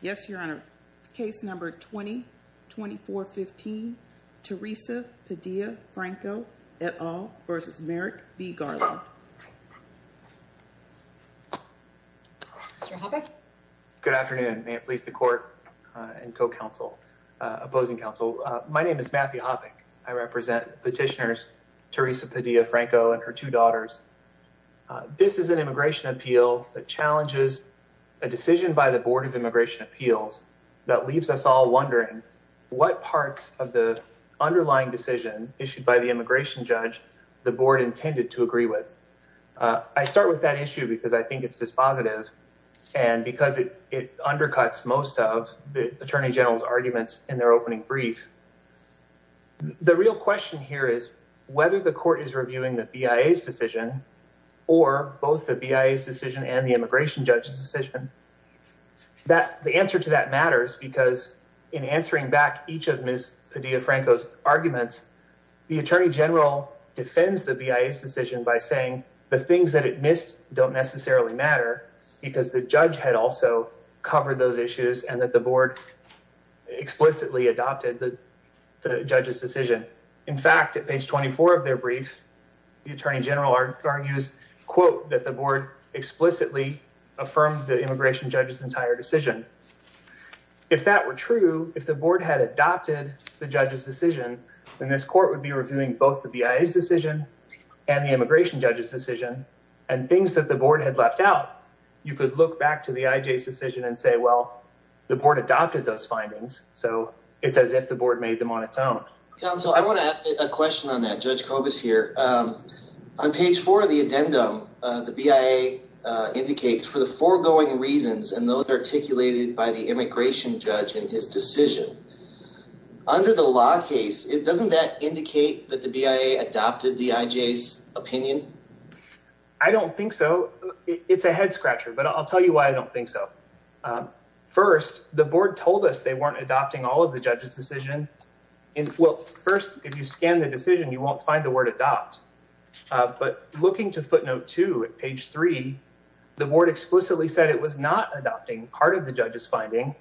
Yes, Your Honor. Case number 20-2415, Teresa Padilla-Franco, et al. v. Merrick B. Garland. Good afternoon. May it please the Court and Co-Counsel, Opposing Counsel. My name is Matthew Hoppeck. I represent petitioners Teresa Padilla-Franco and her two daughters. This is an immigration appeal that challenges a decision by the Board of Immigration Appeals that leaves us all wondering what parts of the underlying decision issued by the immigration judge the Board intended to agree with. I start with that issue because I think it's dispositive and because it undercuts most of the Attorney General's arguments in their opening brief. The real question here is whether the Court is reviewing the BIA's decision or both the BIA's decision and the immigration judge's decision. The answer to that matters because in answering back each of Ms. Padilla-Franco's arguments, the Attorney General defends the BIA's decision by saying the things that it missed don't necessarily matter because the judge had also covered those issues and that the Board explicitly adopted the judge's decision. In fact, at page 24 of their brief, the Attorney General argues, quote, that the Board explicitly affirmed the immigration judge's entire decision. If that were true, if the Board had adopted the judge's decision, then this Court would be reviewing both the BIA's decision and the immigration judge's decision and things that the Board had left out, you could look back to the IJ's decision and say, well, the Board adopted those findings, so it's as if the Board made them on its own. Counsel, I want to ask a question on that. Judge Kobus here. On page four of the addendum, the BIA indicates for the foregoing reasons and those articulated by the immigration judge in his decision. Under the law case, doesn't that indicate that the BIA adopted the IJ's opinion? I don't think so. It's a head scratcher, but I'll tell you why I don't think so. First, the Board told us they weren't adopting all of the judge's decision. Well, first, if you scan the decision, you won't find the word adopt. But looking to footnote two at page three, the Board explicitly said it was not adopting part of the judge's finding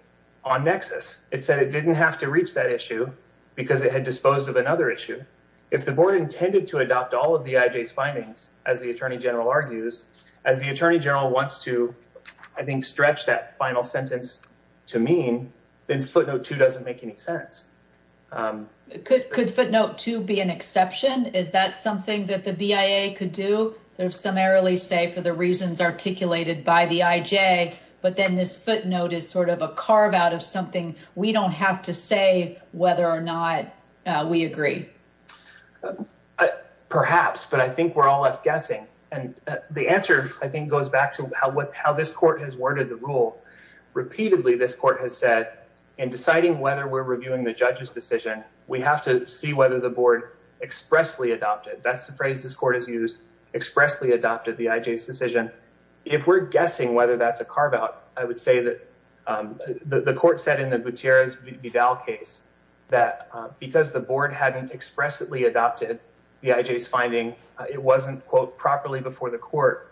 on nexus. It said it didn't have to reach that issue because it had disposed of another issue. If the Board intended to adopt all of the IJ's findings, as the Attorney General argues, as the Attorney General wants to, I think, stretch that final sentence to mean, then footnote two doesn't make any sense. Could footnote two be an exception? Is that something that the BIA could do? Sort of summarily say for the reasons articulated by the IJ, but then this footnote is sort of a carve-out of something we don't have to say whether or not we agree. Perhaps, but I think we're all left guessing. And the answer, I think, goes back to how this court has worded the rule. Repeatedly, this court has said, in deciding whether we're reviewing the judge's decision, we have to see whether the Board expressly adopted, that's the phrase this court has used, expressly adopted the IJ's decision. If we're guessing whether that's a carve-out, I would say that the court said in the Gutierrez-Vidal case, that because the Board hadn't expressly adopted the IJ's finding, it wasn't, quote, properly before the court.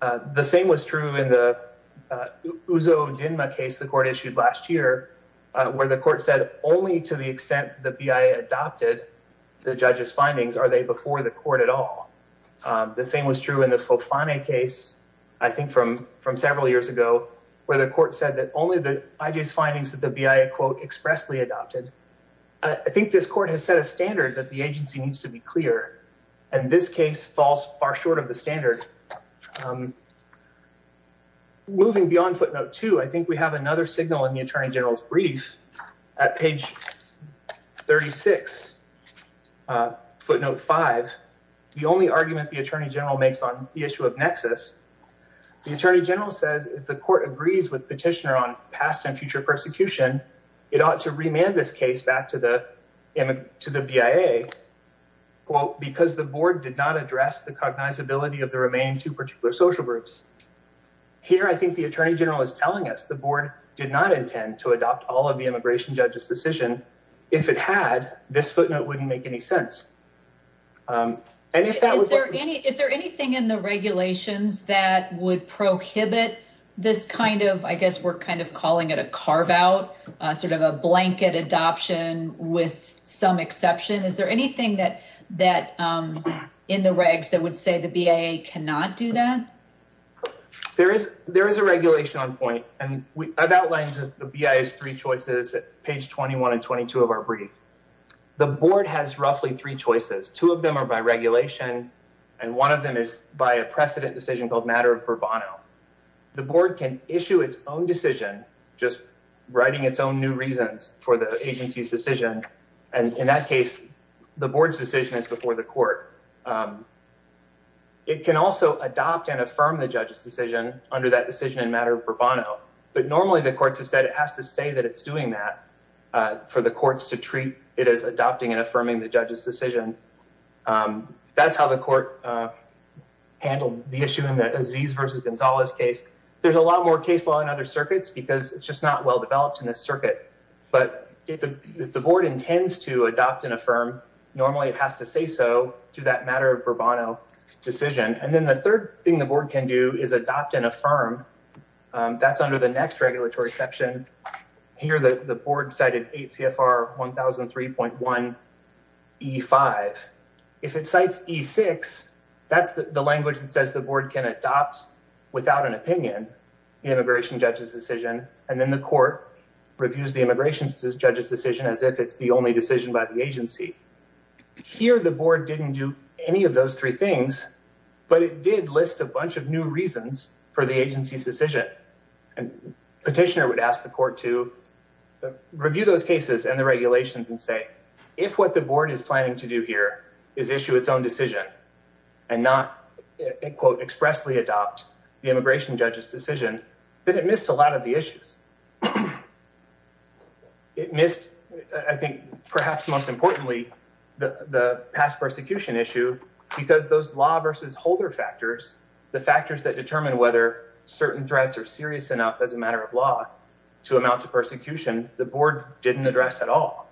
The same was true in the Uzo-Dinma case the court issued last year, where the court said only to the extent the BIA adopted the judge's findings are they before the court at all. The same was true in the Fofane case, I think, from several years ago, where the court said that only the IJ's findings that the BIA, quote, expressly adopted. I think this court has set a standard that the agency needs to be clear, and this case falls far short of the standard. Moving beyond footnote two, I think we have another signal in the Attorney General's brief. At page 36, footnote five, the only argument the Attorney General makes on the issue of nexus, the Attorney General says if the court agrees with petitioner on past and future persecution, it ought to remand this case back to the BIA, quote, because the Board did not address the cognizability of the remaining two particular social groups. Here, I think the Attorney General is telling us the Board did not intend to adopt all of the immigration judge's decision. If it had, this footnote wouldn't make any sense. Is there anything in the regulations that would prohibit this kind of, I guess we're kind of calling it a carve out, sort of a blanket adoption with some exception? Is there anything in the regs that would say the BIA cannot do that? There is a regulation on point, and I've outlined the BIA's three choices at page 21 and 22 of our brief. The Board has roughly three choices. Two of them are by regulation, and one of them is by a precedent decision called matter of bravado. The Board can issue its own decision, just writing its own new reasons for the agency's decision, and in that case, the Board's decision is before the court. It can also adopt and affirm the judge's decision under that decision in matter of bravado, but normally the courts have said it has to say that it's doing that for the courts to treat it as adopting and affirming the judge's decision. That's how the court handled the issue in the Aziz versus Gonzalez case. There's a lot more case law in other circuits because it's just not well developed in this circuit, but if the Board intends to adopt and affirm, normally it has to say so through that matter of bravado decision, and then the third thing the Board can do is adopt and affirm. That's under the next regulatory section. Here the Board cited 8 CFR 1003.1E5. If it cites E6, that's the language that says the Board can adopt without an opinion the immigration judge's decision, and then the court reviews the immigration judge's decision as if it's the only decision by the agency. Here the Board didn't do any of those three things, but it did list a bunch of new reasons for the agency's decision, and petitioner would ask the court to review those cases and the regulations and say, if what the Board is planning to do here is issue its own decision and not, quote, expressly adopt the immigration judge's decision, then it missed a lot of the issues. It missed, I think, perhaps most importantly, the past persecution issue because those law versus holder factors, the factors that determine whether certain threats are serious enough as a matter of law to amount to persecution, the Board didn't address at all.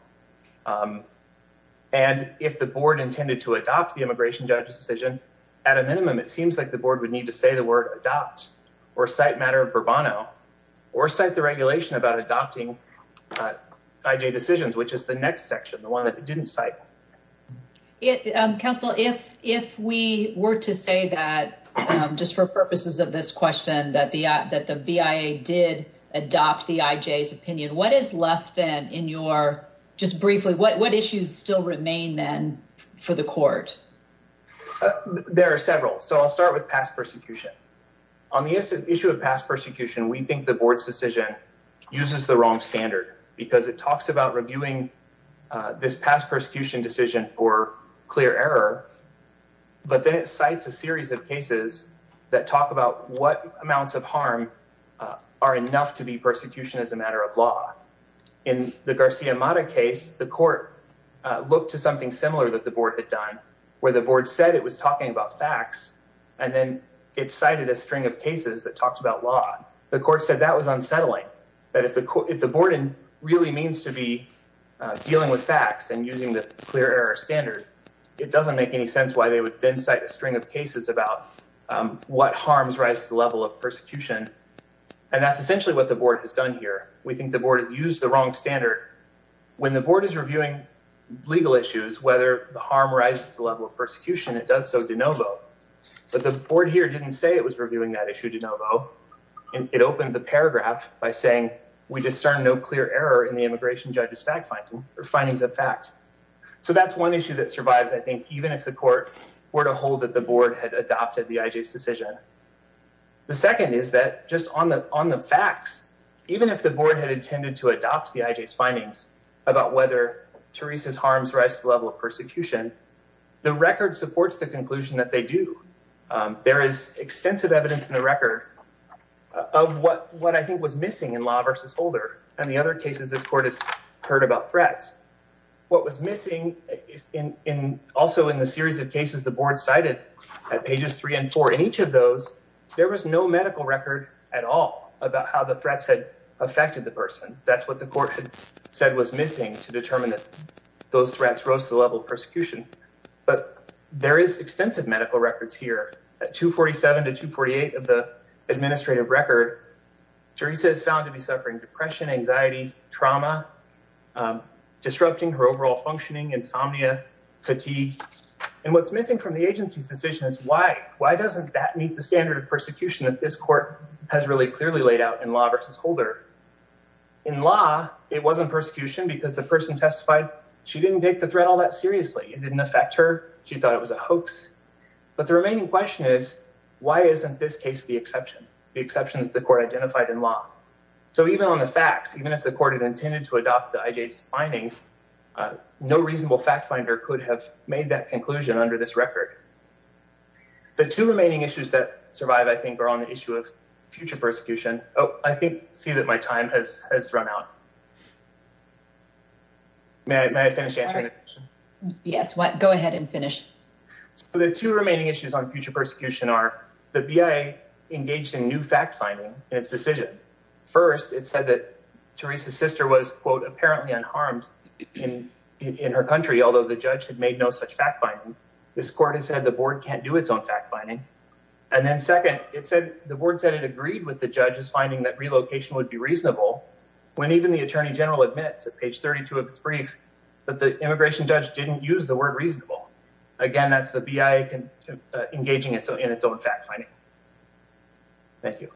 And if the Board intended to adopt the immigration judge's decision, at a minimum, it seems like the Board would need to say the word adopt or cite matter of bravado or cite the regulation about adopting IJ decisions, which is the next section, the one that it didn't cite. Council, if we were to say that, just for purposes of this question, that the BIA did adopt the IJ's opinion, what is left then in your, just briefly, what issues still remain then for the court? There are several. So I'll start with past persecution. On the issue of past persecution, we think the Board's decision uses the wrong standard because it talks about reviewing this past persecution decision for clear error, but then it cites a series of cases that talk about what amounts of harm are enough to be persecution as a matter of law. In the Garcia-Mata case, the court looked to something similar that the Board had done, where the Board said it was talking about facts, and then it cited a string of cases that talked about law. The court said that was unsettling, that if the Board really means to be dealing with facts and using the clear error standard, it doesn't make any sense why they would then cite a string of cases about what harms rise to the level of persecution. And that's essentially what the Board has done here. We think the Board has used the wrong standard. When the Board is reviewing legal issues, whether the harm rises to the level of persecution, it does so de novo. But the Board here didn't say it was reviewing that issue de novo. It opened the paragraph by saying, we discern no clear error in the immigration judge's findings of fact. So that's one issue that survives, I think, even if the court were to hold that the Board had adopted the IJ's decision. The second is that just on the facts, even if the Board had intended to adopt the IJ's findings about whether Teresa's harms rise to the level of persecution, the record supports the conclusion that they do. There is extensive evidence in the record of what I think was missing in Law v. Holder and the other cases this court has heard about threats. What was missing is also in the series of cases the Board cited at pages three and four. In each of those, there was no medical record at all about how the threats had affected the person. That's what the court said was missing to determine that those threats rose to the level of persecution. But there is extensive medical records here. At 247 to 248 of the administrative record, Teresa is found to be suffering depression, anxiety, trauma, disrupting her overall functioning, insomnia, fatigue. And what's missing from the agency's decision is why. Why doesn't that meet the standard of persecution that this court has really clearly laid out in Law v. Holder? In Law, it wasn't persecution because the person testified she didn't take the threat all that seriously. It didn't affect her. She thought it was a hoax. But the remaining question is, why isn't this case the exception, the exception that the court identified in Law? So even on the facts, even if the court had intended to adopt the IJ's findings, no reasonable fact finder could have made that conclusion under this record. The two remaining issues that survive, I think, are on the issue of future persecution. Oh, I see that my time has run out. May I finish answering the question? Yes, go ahead and finish. So the two remaining issues on future persecution are the BIA engaged in new fact finding in its decision. First, it said that Teresa's sister was, quote, apparently unharmed in her country, although the judge had made no such fact finding. This court has said the board can't do its own fact finding. And then second, it said the board said it agreed with the judge's finding that relocation would be reasonable when even the attorney general admits at page 32 of its brief that the immigration judge didn't use the word reasonable. Again, that's the BIA engaging in its own fact finding. Thank you.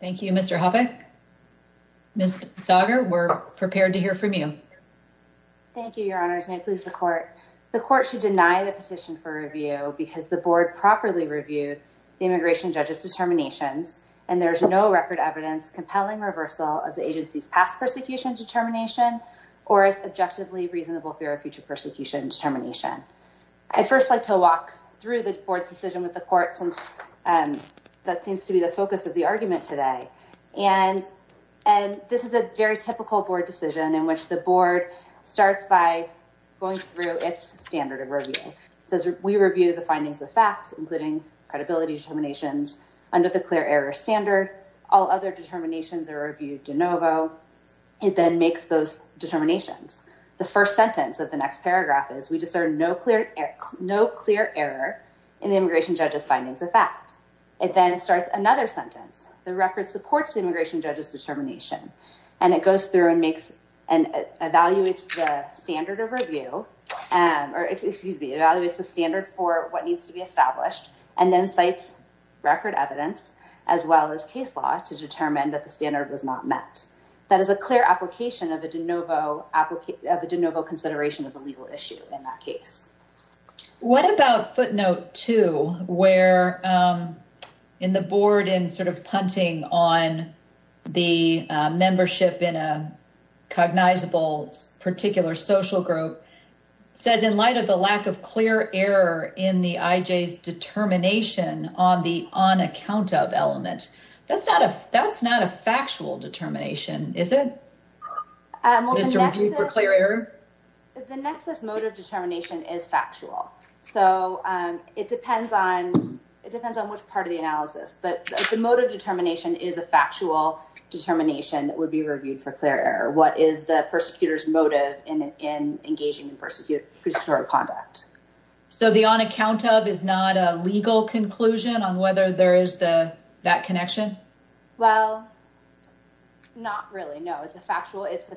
Thank you, Mr. Hoppe. Ms. Stoddard, we're prepared to hear from you. The court should deny the petition for review because the board properly reviewed the immigration judge's determinations, and there's no record evidence compelling reversal of the agency's past persecution determination or as objectively reasonable fear of future persecution determination. I'd first like to walk through the board's decision with the court since that seems to be the focus of the argument today. And this is a very typical board decision in which the board starts by going through its standard of review. It says we review the findings of fact, including credibility determinations under the clear error standard. All other determinations are reviewed de novo. It then makes those determinations. The first sentence of the next paragraph is we just are no clear, no clear error in the immigration judge's findings of fact. It then starts another sentence. The record supports the immigration judge's determination. And it goes through and makes and evaluates the standard of review, or excuse me, evaluates the standard for what needs to be established and then cites record evidence as well as case law to determine that the standard was not met. That is a clear application of a de novo application of a de novo consideration of a legal issue in that case. What about footnote two where in the board in sort of punting on the membership in a cognizable particular social group says in light of the lack of clear error in the IJ's determination on the on account of element. That's not a that's not a factual determination, is it? It's reviewed for clear error. The nexus motive determination is factual. So, it depends on it depends on which part of the analysis, but the motive determination is a factual determination that would be reviewed for clear error. What is the persecutors motive in engaging in persecuted conduct? So, the on account of is not a legal conclusion on whether there is the that connection. Well, not really. No, it's a factual. It's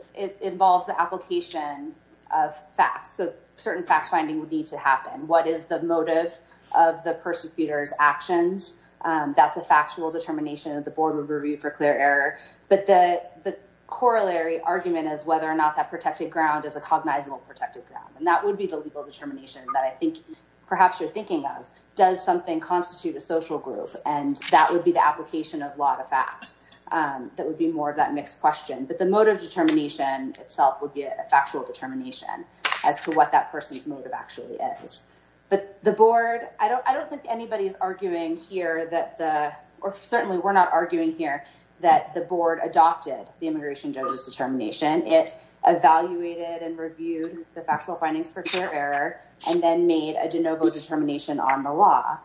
involves the application of facts. So, certain facts finding would need to happen. What is the motive of the persecutors actions? That's a factual determination of the board would review for clear error. But the, the corollary argument is whether or not that protected ground is a cognizable protected and that would be the legal determination that I think perhaps you're thinking of does something constitute a social group. And that would be the application of a lot of facts that would be more of that mixed question. But the motive determination itself would be a factual determination as to what that person's motive actually is. But the board, I don't I don't think anybody's arguing here that the, or certainly we're not arguing here that the board adopted the immigration determination. It evaluated and reviewed the factual findings for error, and then made a de novo determination on the law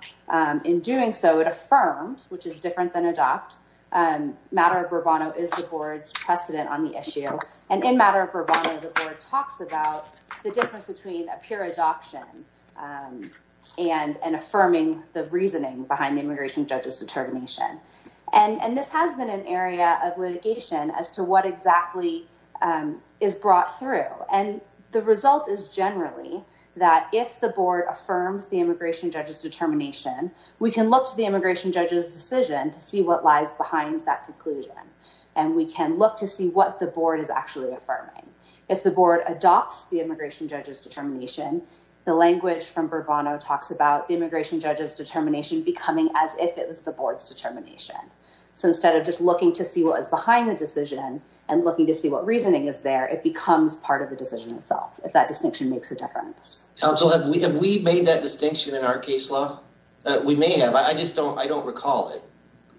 in doing. So, it affirmed, which is different than adopt matter of bravado is the board's precedent on the issue and in matter of talks about the difference between a pure adoption and affirming the reasoning behind immigration judges determination. And this has been an area of litigation as to what exactly is brought through and the result is generally that if the board affirms the immigration judges determination, we can look to the immigration judges decision to see what lies behind that conclusion. And we can look to see what the board is actually affirming. If the board adopts the immigration judges determination, the language from bravado talks about the immigration judges determination becoming as if it was the board's determination. So, instead of just looking to see what is behind the decision and looking to see what reasoning is there, it becomes part of the decision itself. If that distinction makes a difference. We made that distinction in our case law. We may have. I just don't I don't recall it.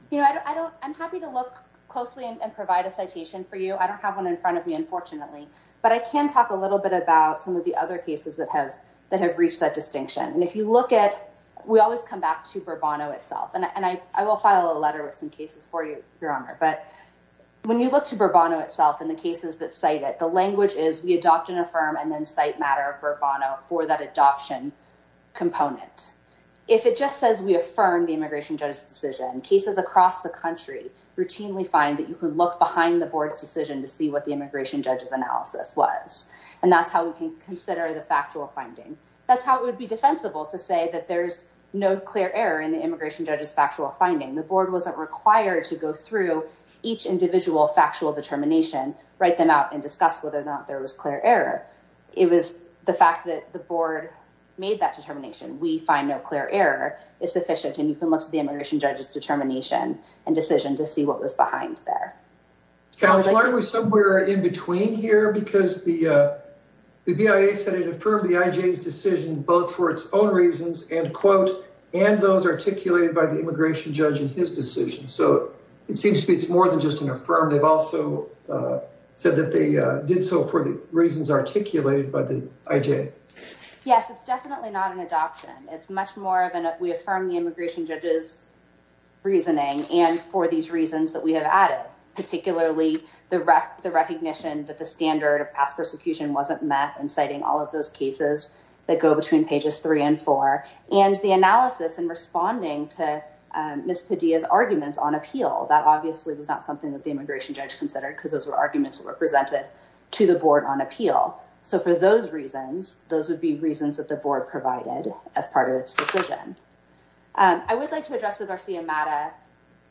You know, I don't I'm happy to look closely and provide a citation for you. I don't have one in front of me, unfortunately, but I can talk a little bit about some of the other cases that have that have reached that distinction. And if you look at we always come back to bravado itself and I will file a letter with some cases for you, your honor. But when you look to bravado itself in the cases that say that the language is we adopt and affirm and then cite matter bravado for that adoption component. If it just says we affirm the immigration judges decision cases across the country routinely find that you could look behind the board's decision to see what the immigration judges analysis was. And that's how we can consider the factual finding. That's how it would be defensible to say that there's no clear error in the immigration judges factual finding the board wasn't required to go through each individual factual determination, write them out and discuss whether or not there was clear error. It was the fact that the board made that determination. We find no clear error is sufficient and you can look to the immigration judges determination and decision to see what was behind there. Why are we somewhere in between here? Because the, uh. Uh, said that they did so for the reasons articulated by the. Yes, it's definitely not an adoption. It's much more than if we affirm the immigration judges. Reasoning and for these reasons that we have added, particularly the recognition that the standard of past persecution wasn't met and citing all of those cases. So, for those reasons, those would be reasons that the board provided as part of its decision. I would like to address the Garcia matter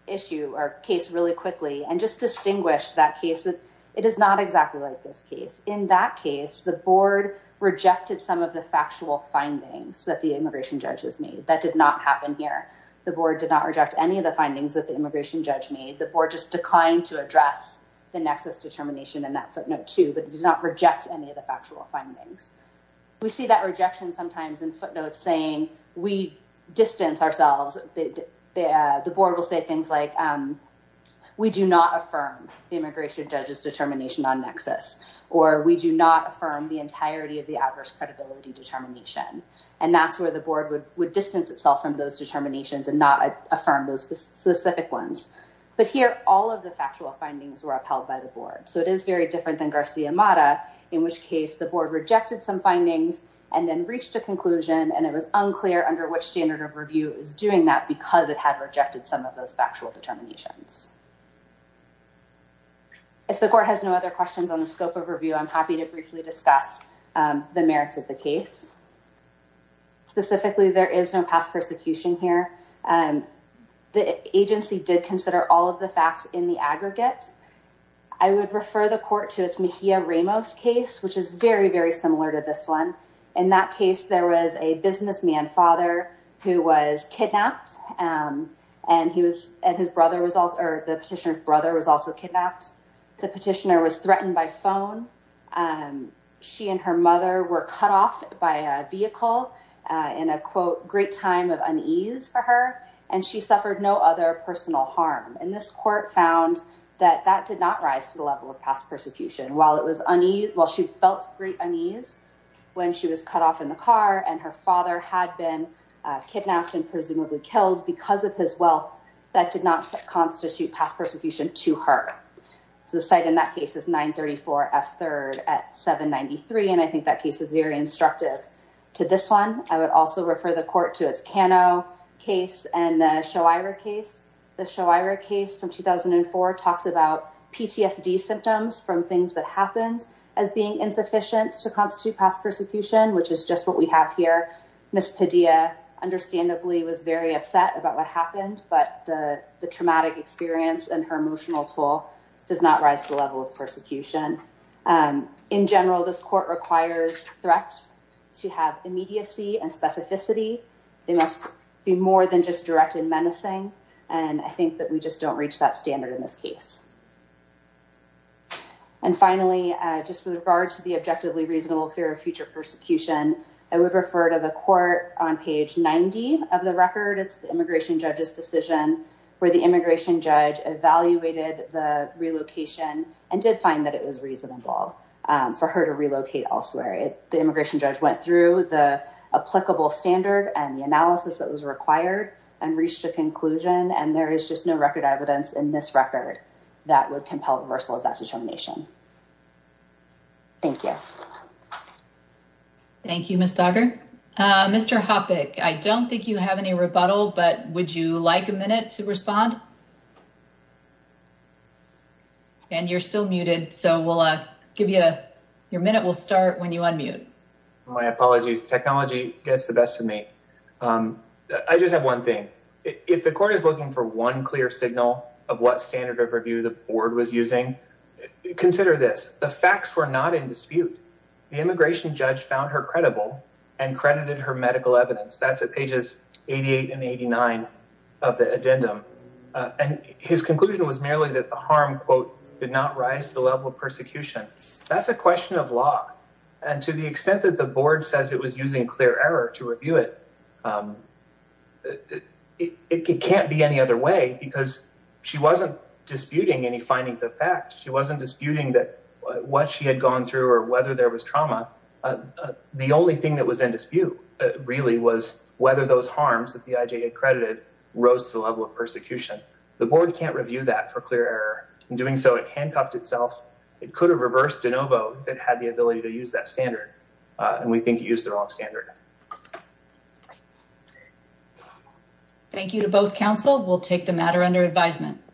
issue or case really quickly and just distinguish that case that it is not exactly like this case. In that case, the board rejected some of the factual findings that the immigration judges made. That did not happen here. The board did not reject any of the findings that the immigration judge made the board just declined to address the nexus determination and that footnote too, but did not reject any of the factual findings. We see that rejection sometimes in footnotes saying we distance ourselves. The, uh, the board will say things like, um. We do not affirm the immigration judges determination on nexus, or we do not affirm the entirety of the adverse credibility determination. And that's where the board would distance itself from those determinations and not affirm those specific ones. But here, all of the factual findings were upheld by the board. So it is very different than Garcia in which case, the board rejected some findings and then reached a conclusion. And it was unclear under which standard of review is doing that because it had rejected some of those factual determinations. If the court has no other questions on the scope of review, I'm happy to briefly discuss the merits of the case. Specifically, there is no past persecution here. The agency did consider all of the facts in the aggregate. I would refer the court to its Mahia Ramos case, which is very, very similar to this one. In that case, there was a businessman father who was kidnapped and he was at his brother was also the petitioner's brother was also kidnapped. The petitioner was threatened by phone. And she and her mother were cut off by a vehicle in a quote, great time of unease for her. And she suffered no other personal harm. And this court found that that did not rise to the level of past persecution while it was unease while she felt great unease when she was cut off in the car. And her father had been kidnapped and presumably killed because of his wealth. That did not constitute past persecution to her. So the site in that case is nine thirty four F third at seven ninety three. And I think that case is very instructive to this one. I would also refer the court to its Kano case and show either case. The show either case from 2004 talks about PTSD symptoms from things that happened as being insufficient to constitute past persecution, which is just what we have here. Miss Padilla understandably was very upset about what happened, but the traumatic experience and her emotional toll does not rise to the level of persecution. In general, this court requires threats to have immediacy and specificity. They must be more than just directed menacing. And I think that we just don't reach that standard in this case. And finally, just with regards to the objectively reasonable fear of future persecution, I would refer to the court on page 90 of the record. It's the immigration judge's decision where the immigration judge evaluated the relocation and did find that it was reasonable for her to relocate elsewhere. The immigration judge went through the applicable standard and the analysis that was required and reached a conclusion. And there is just no record evidence in this record that would compel reversal of that determination. Thank you. Thank you, Miss Duggar. Mr. Hopic, I don't think you have any rebuttal, but would you like a minute to respond? And you're still muted, so we'll give you your minute. We'll start when you unmute. My apologies. Technology gets the best of me. I just have one thing. If the court is looking for one clear signal of what standard of review the board was using, consider this. The facts were not in dispute. The immigration judge found her credible and credited her medical evidence. That's at pages 88 and 89 of the addendum. And his conclusion was merely that the harm, quote, did not rise to the level of persecution. That's a question of law. And to the extent that the board says it was using clear error to review it, it can't be any other way because she wasn't disputing any findings of fact. She wasn't disputing what she had gone through or whether there was trauma. The only thing that was in dispute really was whether those harms that the IJ had credited rose to the level of persecution. The board can't review that for clear error. In doing so, it handcuffed itself. It could have reversed de novo if it had the ability to use that standard. And we think it used the wrong standard. Thank you to both counsel. We'll take the matter under advisement.